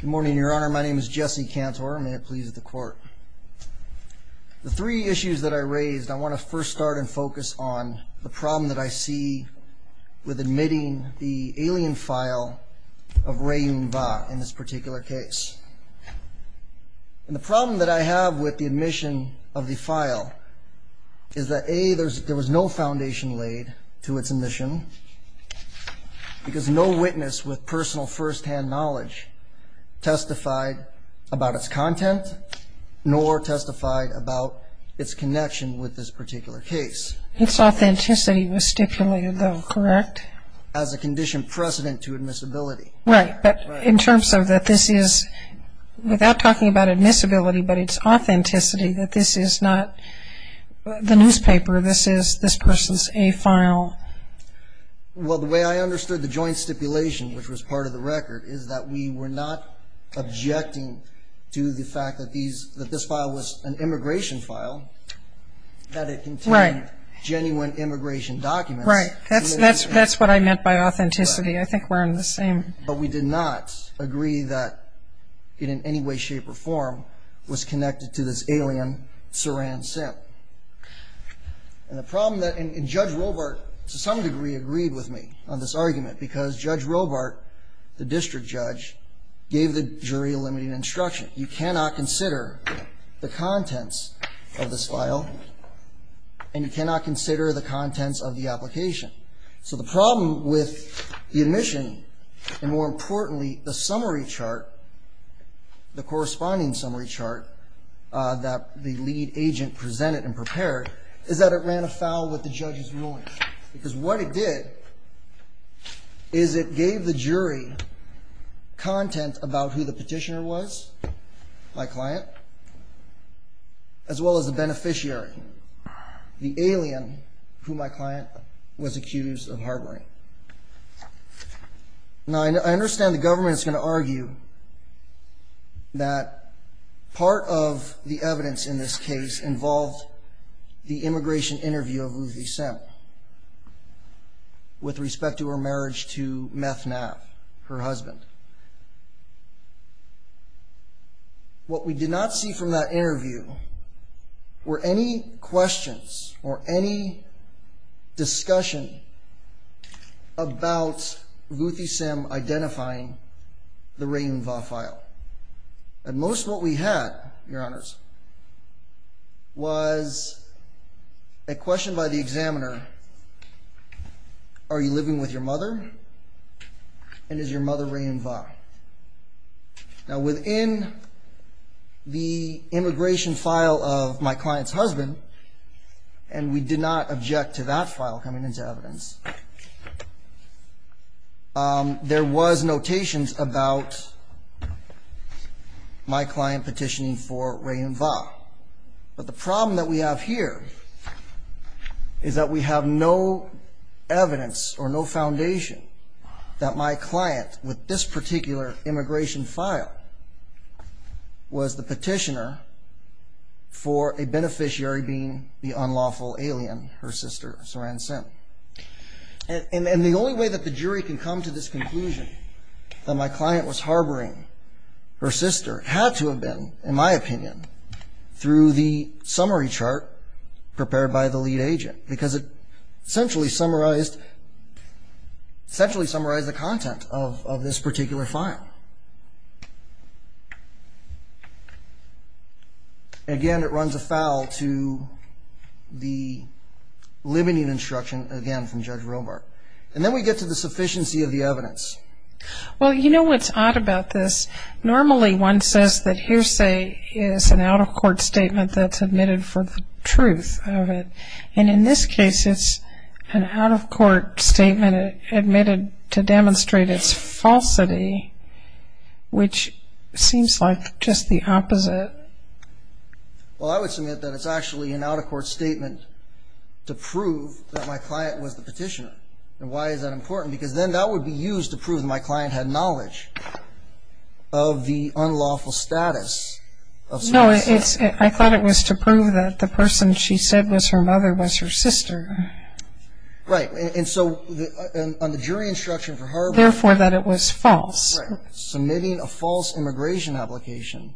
Good morning, Your Honor. My name is Jesse Cantor. May it please the Court. The three issues that I raised, I want to first start and focus on the problem that I see with admitting the alien file of Ray Yun Va in this particular case. And the problem that I have with the admission of the file is that a. there was no foundation laid to its admission because no witness with personal first-hand knowledge testified about its content nor testified about its connection with this particular case. Its authenticity was stipulated though, correct? As a condition precedent to admissibility. Right, but in terms of that this is, without talking about admissibility, but its authenticity that this is not the newspaper, this is this person's A file. Well, the way I understood the joint stipulation, which was part of the record, is that we were not objecting to the fact that this file was an immigration file, that it contained genuine immigration documents. Right, that's what I meant by authenticity. I think we're in the same. But we did not agree that it in any way, shape, or form was connected to this alien Saran SIM. And the problem that, and Judge Robart to some degree agreed with me on this argument because Judge Robart, the district judge, gave the jury a limited instruction. You cannot consider the contents of this file and you cannot consider the contents of the application. So the problem with the admission, and more importantly the summary chart, the corresponding summary chart that the lead agent presented and prepared, is that it ran afoul with the judge's ruling. Because what it did is it gave the jury content about who the petitioner was, my client, as well as the beneficiary, the alien who my client was accused of harboring. Now I understand the government is going to argue that part of the evidence in this case involved the immigration interview of Ruthie SIM with respect to her marriage to Meth Nav, her husband. What we did not see from that interview were any questions or any discussion about Ruthie SIM identifying the Raim Va file. At most what we had, Your Honors, was a question by the examiner, Are you living with your mother? And is your mother Raim Va? Now within the immigration file of my client's husband, and we did not object to that file coming into evidence, there was notations about my client petitioning for Raim Va. But the problem that we have here is that we have no evidence or no foundation that my client, with this particular immigration file, was the petitioner for a beneficiary being the unlawful alien, her sister Saran SIM. And the only way that the jury can come to this conclusion, that my client was harboring her sister, had to have been, in my opinion, through the summary chart prepared by the lead agent. Because it essentially summarized the content of this particular file. Again, it runs afoul to the limiting instruction, again, from Judge Robart. And then we get to the sufficiency of the evidence. Well, you know what's odd about this? Normally one says that hearsay is an out-of-court statement that's admitted for the truth of it. And in this case it's an out-of-court statement admitted to demonstrate its falsity, which seems like just the opposite. Well, I would submit that it's actually an out-of-court statement to prove that my client was the petitioner. And why is that important? Because then that would be used to prove that my client had knowledge of the unlawful status of Saran SIM. No, I thought it was to prove that the person she said was her mother was her sister. Right. And so on the jury instruction for harboring... Therefore, that it was false. Right. Submitting a false immigration application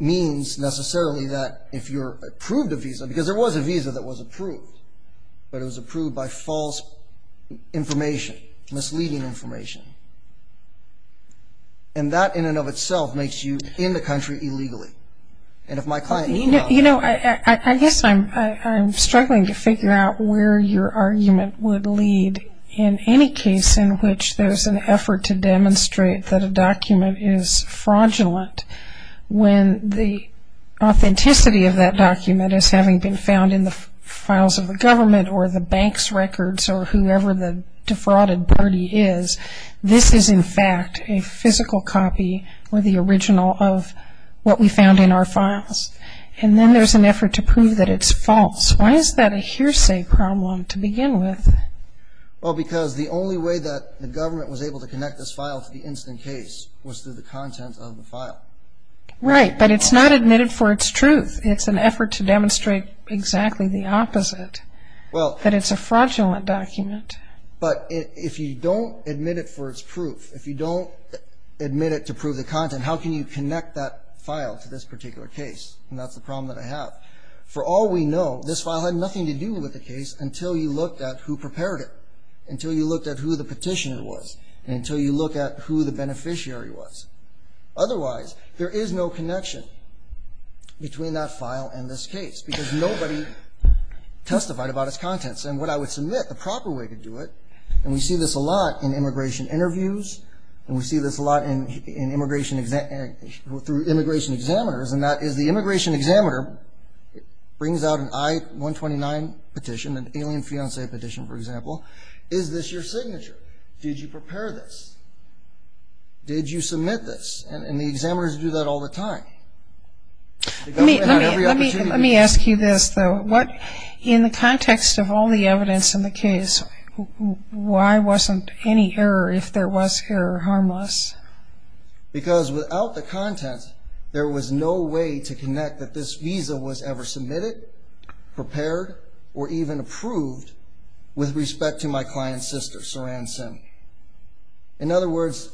means necessarily that if you're approved a visa, because there was a visa that was approved, but it was approved by false information, misleading information. And that in and of itself makes you in the country illegally. And if my client... You know, I guess I'm struggling to figure out where your argument would lead in any case in which there's an effort to demonstrate that a document is fraudulent when the authenticity of that document is having been found in the files of the government or the bank's records or whoever the defrauded party is. This is in fact a physical copy or the original of what we found in our files. And then there's an effort to prove that it's false. Why is that a hearsay problem to begin with? Well, because the only way that the government was able to connect this file to the incident case was through the content of the file. Right. But it's not admitted for its truth. It's an effort to demonstrate exactly the opposite, that it's a fraudulent document. But if you don't admit it for its proof, if you don't admit it to prove the content, how can you connect that file to this particular case? And that's the problem that I have. For all we know, this file had nothing to do with the case until you looked at who prepared it, until you looked at who the petitioner was, and until you looked at who the beneficiary was. Otherwise, there is no connection between that file and this case because nobody testified about its contents. And what I would submit, the proper way to do it, and we see this a lot in immigration interviews, and we see this a lot through immigration examiners, and that is the immigration examiner brings out an I-129 petition, an alien fiancé petition, for example, is this your signature? Did you prepare this? Did you submit this? And the examiners do that all the time. Let me ask you this, though. In the context of all the evidence in the case, why wasn't any error, if there was error, harmless? Because without the content, there was no way to connect that this visa was ever submitted, prepared, or even approved with respect to my client's sister, Saran Sim. In other words,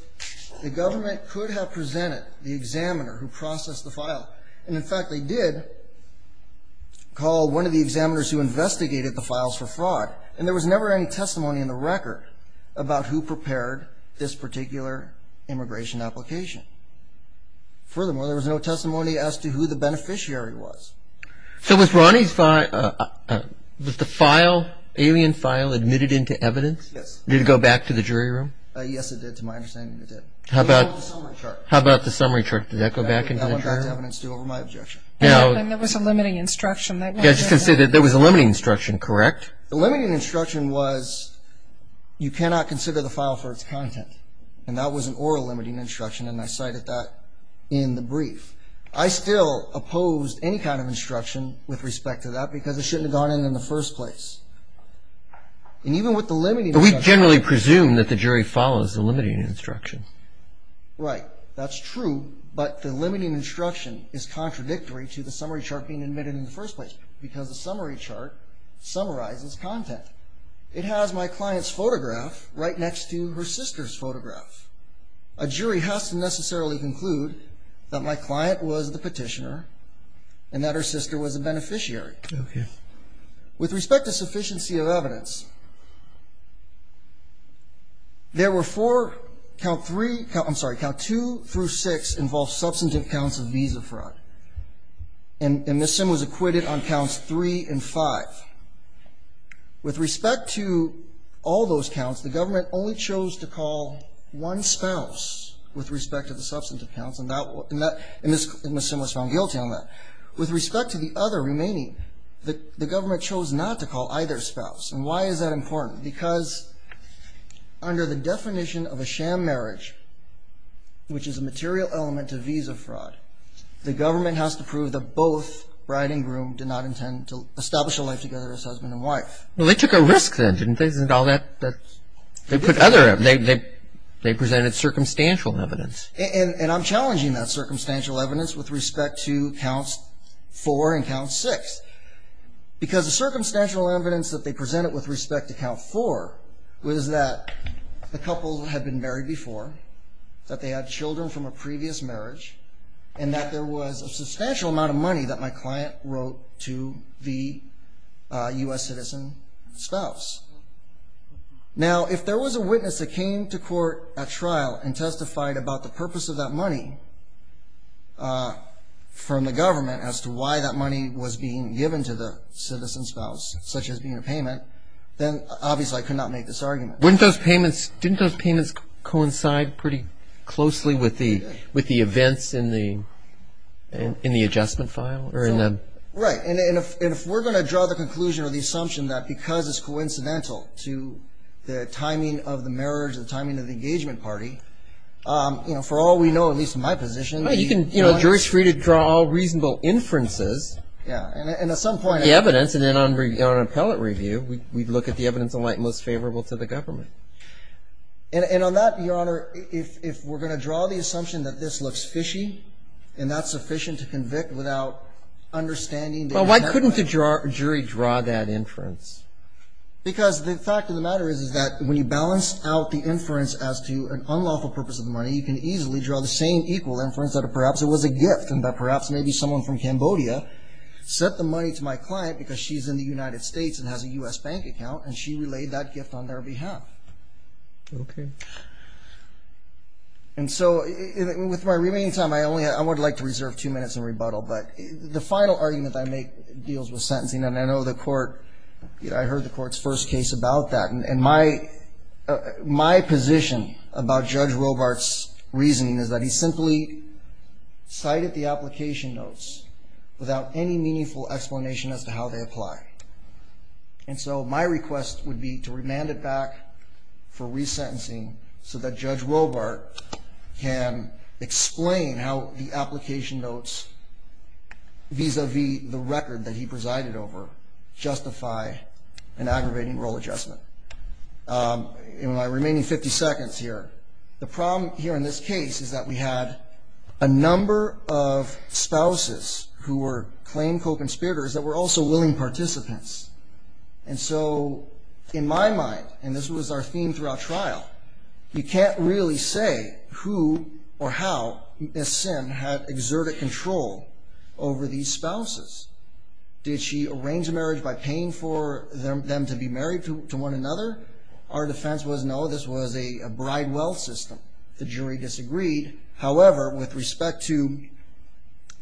the government could have presented the examiner who processed the file, and, in fact, they did call one of the examiners who investigated the files for fraud, and there was never any testimony in the record about who prepared this particular immigration application. Furthermore, there was no testimony as to who the beneficiary was. So was Ronnie's file, was the file, alien file, admitted into evidence? Yes. Did it go back to the jury room? Yes, it did, to my understanding, it did. How about the summary chart? How about the summary chart? Did that go back into the jury room? That went back to evidence, too, over my objection. And there was a limiting instruction. Yeah, I was just going to say that there was a limiting instruction, correct? The limiting instruction was you cannot consider the file for its content, and that was an oral limiting instruction, and I cited that in the brief. I still opposed any kind of instruction with respect to that, because it shouldn't have gone in in the first place. And even with the limiting instruction… But we generally presume that the jury follows the limiting instruction. Right. That's true, but the limiting instruction is contradictory to the summary chart being admitted in the first place, because the summary chart summarizes content. It has my client's photograph right next to her sister's photograph. A jury has to necessarily conclude that my client was the petitioner and that her sister was a beneficiary. Okay. With respect to sufficiency of evidence, there were four count three… I'm sorry, count two through six involved substantive counts of visa fraud, and Ms. Simms was acquitted on counts three and five. With respect to all those counts, the government only chose to call one spouse with respect to the substantive counts, and Ms. Simms was found guilty on that. With respect to the other remaining, the government chose not to call either spouse. And why is that important? Because under the definition of a sham marriage, which is a material element to visa fraud, the government has to prove that both bride and groom did not intend to establish a life together as husband and wife. Well, they took a risk then, didn't they? Isn't all that… they presented circumstantial evidence. And I'm challenging that circumstantial evidence with respect to counts four and count six, because the circumstantial evidence that they presented with respect to count four was that the couple had been married before, that they had children from a previous marriage, and that there was a substantial amount of money that my client wrote to the U.S. citizen spouse. Now, if there was a witness that came to court at trial and testified about the purpose of that money from the government as to why that money was being given to the citizen spouse, such as being a payment, then obviously I could not make this argument. Wouldn't those payments coincide pretty closely with the events in the adjustment file? Right. And if we're going to draw the conclusion or the assumption that because it's coincidental to the timing of the marriage, the timing of the engagement party, you know, for all we know, at least in my position… You know, a jury's free to draw reasonable inferences. Yeah. And at some point… In my view, we'd look at the evidence in light most favorable to the government. And on that, Your Honor, if we're going to draw the assumption that this looks fishy, and that's sufficient to convict without understanding… Well, why couldn't the jury draw that inference? Because the fact of the matter is, is that when you balance out the inference as to an unlawful purpose of the money, you can easily draw the same equal inference that perhaps it was a gift and that perhaps maybe someone from Cambodia sent the money to my client because she's in the United States and has a U.S. bank account, and she relayed that gift on their behalf. Okay. And so with my remaining time, I would like to reserve two minutes in rebuttal. But the final argument that I make deals with sentencing, and I know the Court… I heard the Court's first case about that. And my position about Judge Robart's reasoning is that he simply cited the application notes without any meaningful explanation as to how they apply. And so my request would be to remand it back for resentencing so that Judge Robart can explain how the application notes vis-à-vis the record that he presided over justify an aggravating role adjustment. In my remaining 50 seconds here, the problem here in this case is that we had a number of spouses who were claimed co-conspirators that were also willing participants. And so in my mind, and this was our theme throughout trial, you can't really say who or how Ms. Sim had exerted control over these spouses. Did she arrange a marriage by paying for them to be married to one another? Our defense was no, this was a bride-well system. The jury disagreed. However, with respect to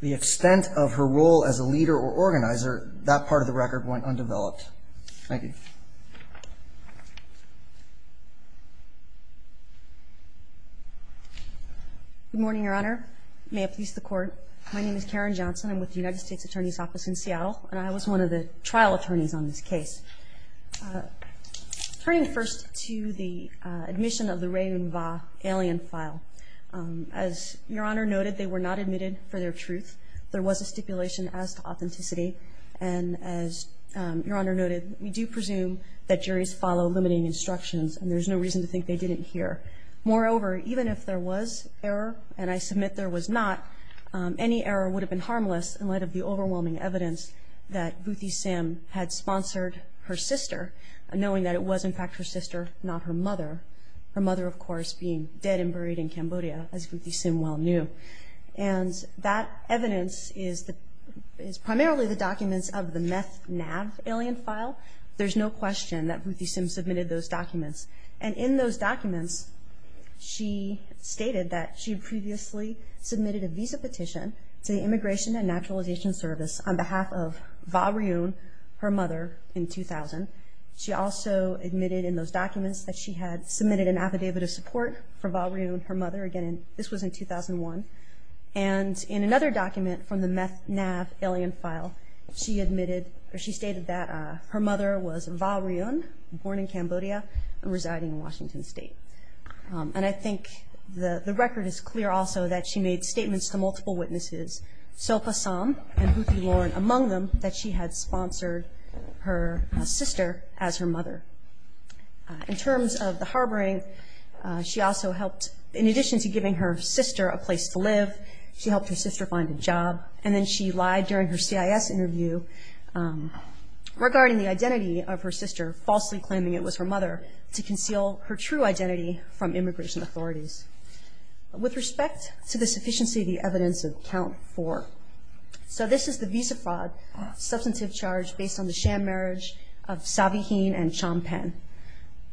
the extent of her role as a leader or organizer, that part of the record went undeveloped. Thank you. Good morning, Your Honor. May it please the Court. My name is Karen Johnson. I'm with the United States Attorney's Office in Seattle, and I was one of the trial attorneys on this case. Turning first to the admission of the Ray and Va alien file, as Your Honor noted, they were not admitted for their truth. There was a stipulation as to authenticity. And as Your Honor noted, we do presume that juries follow limiting instructions, and there's no reason to think they didn't here. Moreover, even if there was error, and I submit there was not, any error would have been harmless in light of the overwhelming evidence that Boothy Sim had sponsored her sister, knowing that it was, in fact, her sister, not her mother. Her mother, of course, being dead and buried in Cambodia, as Boothy Sim well knew. And that evidence is primarily the documents of the meth NAV alien file. There's no question that Boothy Sim submitted those documents. And in those documents, she stated that she previously submitted a visa petition to the Immigration and Naturalization Service on behalf of Va Ryun, her mother, in 2000. She also admitted in those documents that she had submitted an affidavit of support for Va Ryun, her mother. Again, this was in 2001. And in another document from the meth NAV alien file, she stated that her mother was Va Ryun, born in Cambodia and residing in Washington State. And I think the record is clear also that she made statements to multiple witnesses, Sopha Sam and Boothy Lauren, among them, that she had sponsored her sister as her mother. In terms of the harboring, she also helped, in addition to giving her sister a place to live, she helped her sister find a job. And then she lied during her CIS interview regarding the identity of her sister, falsely claiming it was her mother, to conceal her true identity from immigration authorities. With respect to the sufficiency of the evidence of count four, So this is the visa fraud substantive charge based on the sham marriage of Savi Hien and Chom Pen.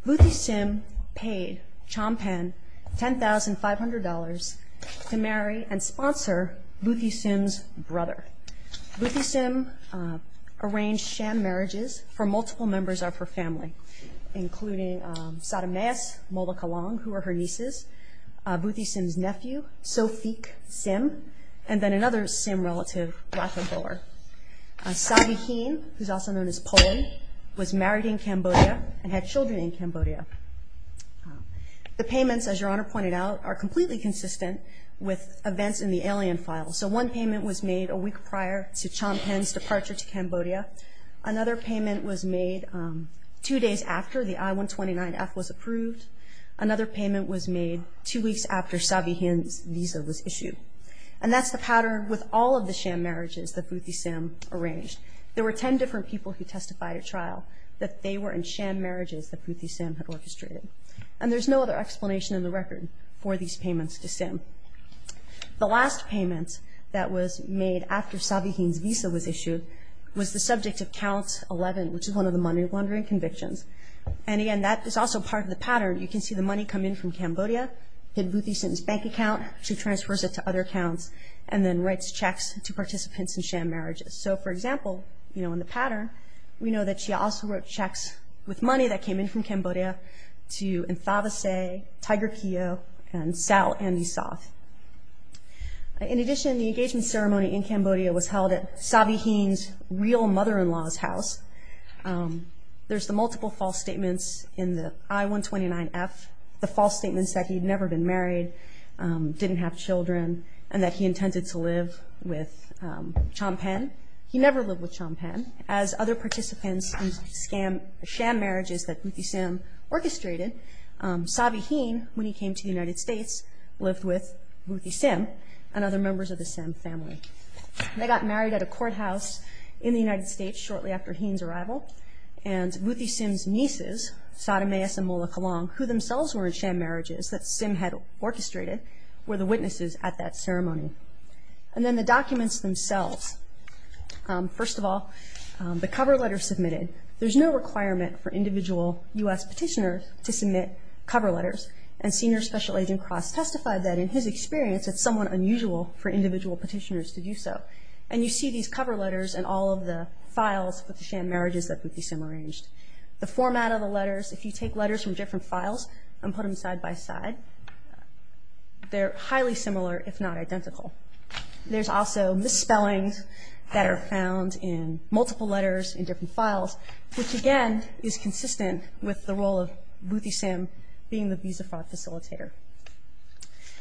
Boothy Sim paid Chom Pen $10,500 to marry and sponsor Boothy Sim's brother. Boothy Sim arranged sham marriages for multiple members of her family, including Sadameas Molokalong, who were her nieces, Boothy Sim's nephew, Sophik Sim, and then another Sim relative, Rathobor. Savi Hien, who's also known as Polon, was married in Cambodia and had children in Cambodia. The payments, as Your Honor pointed out, are completely consistent with events in the alien file. So one payment was made a week prior to Chom Pen's departure to Cambodia. Another payment was made two days after the I-129F was approved. Another payment was made two weeks after Savi Hien's visa was issued. And that's the pattern with all of the sham marriages that Boothy Sim arranged. There were 10 different people who testified at trial that they were in sham marriages that Boothy Sim had orchestrated. And there's no other explanation in the record for these payments to Sim. The last payment that was made after Savi Hien's visa was issued was the subject of count 11, which is one of the money laundering convictions. And, again, that is also part of the pattern. You can see the money come in from Cambodia. Then Boothy Sim's bank account, she transfers it to other accounts and then writes checks to participants in sham marriages. So, for example, in the pattern, we know that she also wrote checks with money that came in from Cambodia to Nthavase, Tiger Keo, and Sal Andy Soth. In addition, the engagement ceremony in Cambodia was held at Savi Hien's real mother-in-law's house. There's the multiple false statements in the I-129F, the false statements that he'd never been married, didn't have children, and that he intended to live with Champagne. He never lived with Champagne. As other participants in sham marriages that Boothy Sim orchestrated, Savi Hien, when he came to the United States, lived with Boothy Sim and other members of the Sim family. They got married at a courthouse in the United States shortly after Hien's arrival, and Boothy Sim's nieces, Sadameus and Mola Kalong, who themselves were in sham marriages that Sim had orchestrated, were the witnesses at that ceremony. And then the documents themselves. First of all, the cover letter submitted. There's no requirement for individual U.S. petitioners to submit cover letters, and Senior Special Agent Cross testified that, in his experience, it's somewhat unusual for individual petitioners to do so. And you see these cover letters in all of the files for the sham marriages that Boothy Sim arranged. The format of the letters, if you take letters from different files and put them side by side, they're highly similar, if not identical. There's also misspellings that are found in multiple letters in different files, which, again, is consistent with the role of Boothy Sim being the visa fraud facilitator.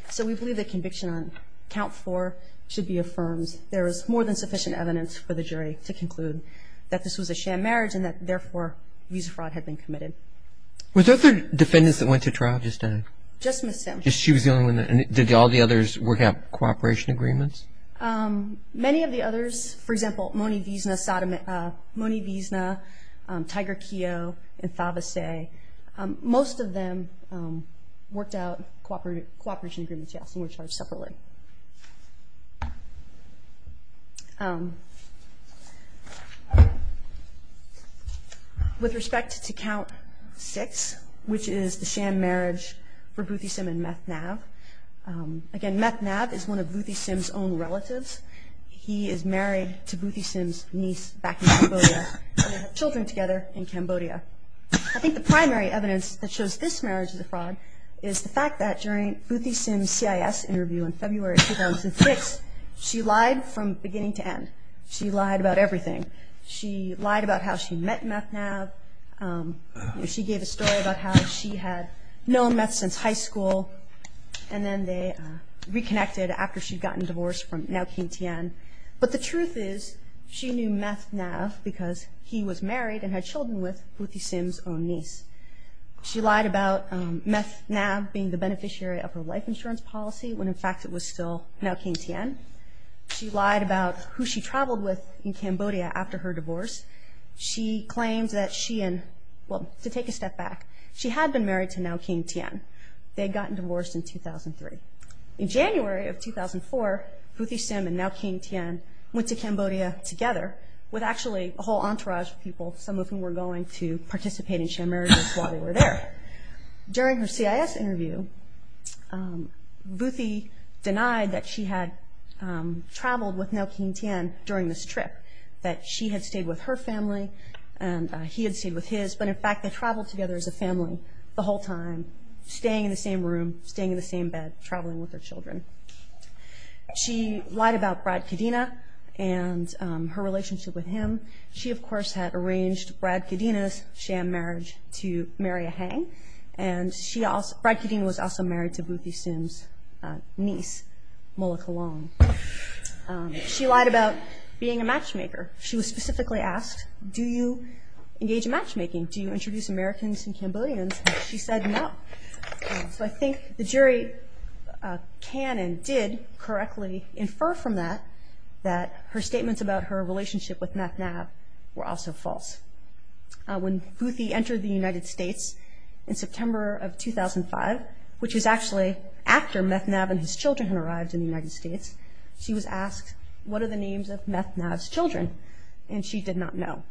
So we believe that conviction on count four should be affirmed. There is more than sufficient evidence for the jury to conclude that this was a sham marriage and that, therefore, visa fraud had been committed. Were there other defendants that went to trial just then? Just Ms. Sim. Just she was the only one? And did all the others work out cooperation agreements? Many of the others, for example, Moni Vizna, Tiger Keogh, and Thavasay, most of them worked out cooperation agreements, yes, and were charged separately. With respect to count six, which is the sham marriage for Boothy Sim and Meth Nav, again, Meth Nav is one of Boothy Sim's own relatives. He is married to Boothy Sim's niece back in Cambodia, and they have children together in Cambodia. I think the primary evidence that shows this marriage is a fraud is the fact that during Boothy Sim's CIS interview in February 2006, she lied from beginning to end. She lied about everything. She lied about how she met Meth Nav. She gave a story about how she had known Meth since high school, and then they reconnected after she'd gotten divorced from now King Tian. But the truth is she knew Meth Nav because he was married and had children with Boothy Sim's own niece. She lied about Meth Nav being the beneficiary of her life insurance policy when, in fact, it was still now King Tian. She lied about who she traveled with in Cambodia after her divorce. She claims that she and, well, to take a step back, she had been married to now King Tian. They had gotten divorced in 2003. In January of 2004, Boothy Sim and now King Tian went to Cambodia together with, actually, a whole entourage of people, some of whom were going to participate in Chan Marriage while they were there. During her CIS interview, Boothy denied that she had traveled with now King Tian during this trip, that she had stayed with her family and he had stayed with his, but, in fact, they traveled together as a family the whole time, staying in the same room, staying in the same bed, traveling with their children. She lied about Brad Kadina and her relationship with him. She, of course, had arranged Brad Kadina's Chan Marriage to marry a Hang, and Brad Kadina was also married to Boothy Sim's niece, Mola Kalong. She lied about being a matchmaker. She was specifically asked, do you engage in matchmaking? Do you introduce Americans and Cambodians? And she said no. So I think the jury can and did correctly infer from that that her statements about her relationship with Meth Knav were also false. When Boothy entered the United States in September of 2005, which was actually after Meth Knav and his children had arrived in the United States, she was asked, what are the names of Meth Knav's children? And she did not know.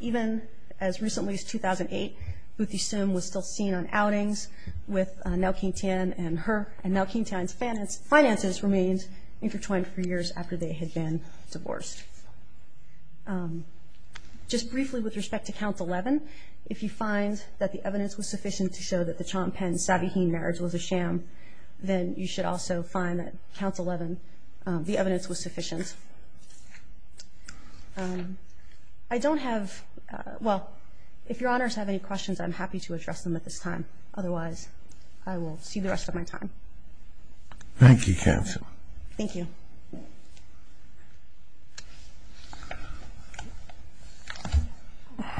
Even as recently as 2008, Boothy Sim was still seen on outings with Ngo Kinh Thien and her, and Ngo Kinh Thien's finances remained intertwined for years after they had been divorced. Just briefly with respect to Count 11, if you find that the evidence was sufficient to show that the Chan-Pen-Savvy-Hien marriage was a sham, then you should also find that Count 11, the evidence was sufficient. And I don't have – well, if Your Honors have any questions, I'm happy to address them at this time. Otherwise, I will cede the rest of my time. Thank you, Counsel. Thank you.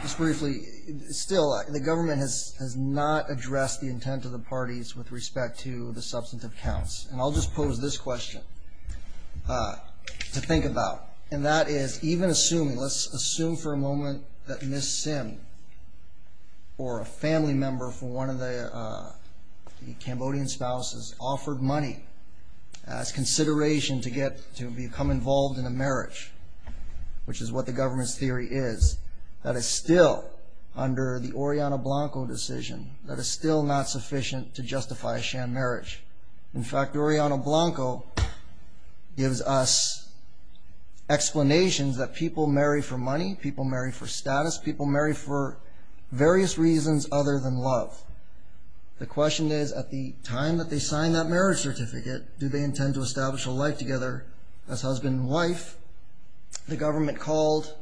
Just briefly, still the government has not addressed the intent of the parties with respect to the substantive counts. And I'll just pose this question to think about. And that is, even assuming – let's assume for a moment that Ms. Sim or a family member from one of the Cambodian spouses offered money as consideration to become involved in a marriage, which is what the government's theory is, that is still under the Oriana Blanco decision, that is still not sufficient to justify a sham marriage. In fact, Oriana Blanco gives us explanations that people marry for money, people marry for status, people marry for various reasons other than love. The question is, at the time that they sign that marriage certificate, do they intend to establish a life together as husband and wife? The government called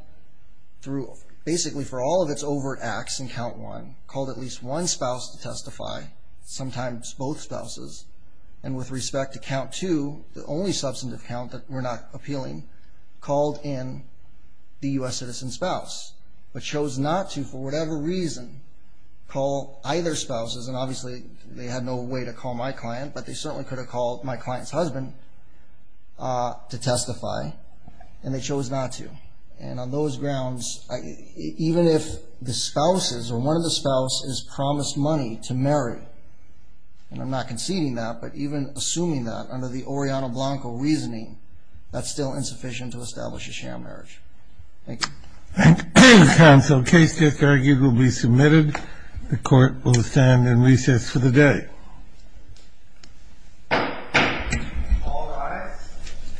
through – basically for all of its overt acts in Count 1, called at least one spouse to testify, sometimes both spouses. And with respect to Count 2, the only substantive count that were not appealing, called in the U.S. citizen spouse, but chose not to for whatever reason call either spouses. And obviously they had no way to call my client, but they certainly could have called my client's husband to testify, and they chose not to. And on those grounds, even if the spouses, or one of the spouses, is promised money to marry, and I'm not conceding that, but even assuming that under the Oriana Blanco reasoning, that's still insufficient to establish a sham marriage. Thank you. Counsel, case disargued will be submitted. The court will stand in recess for the day. All rise.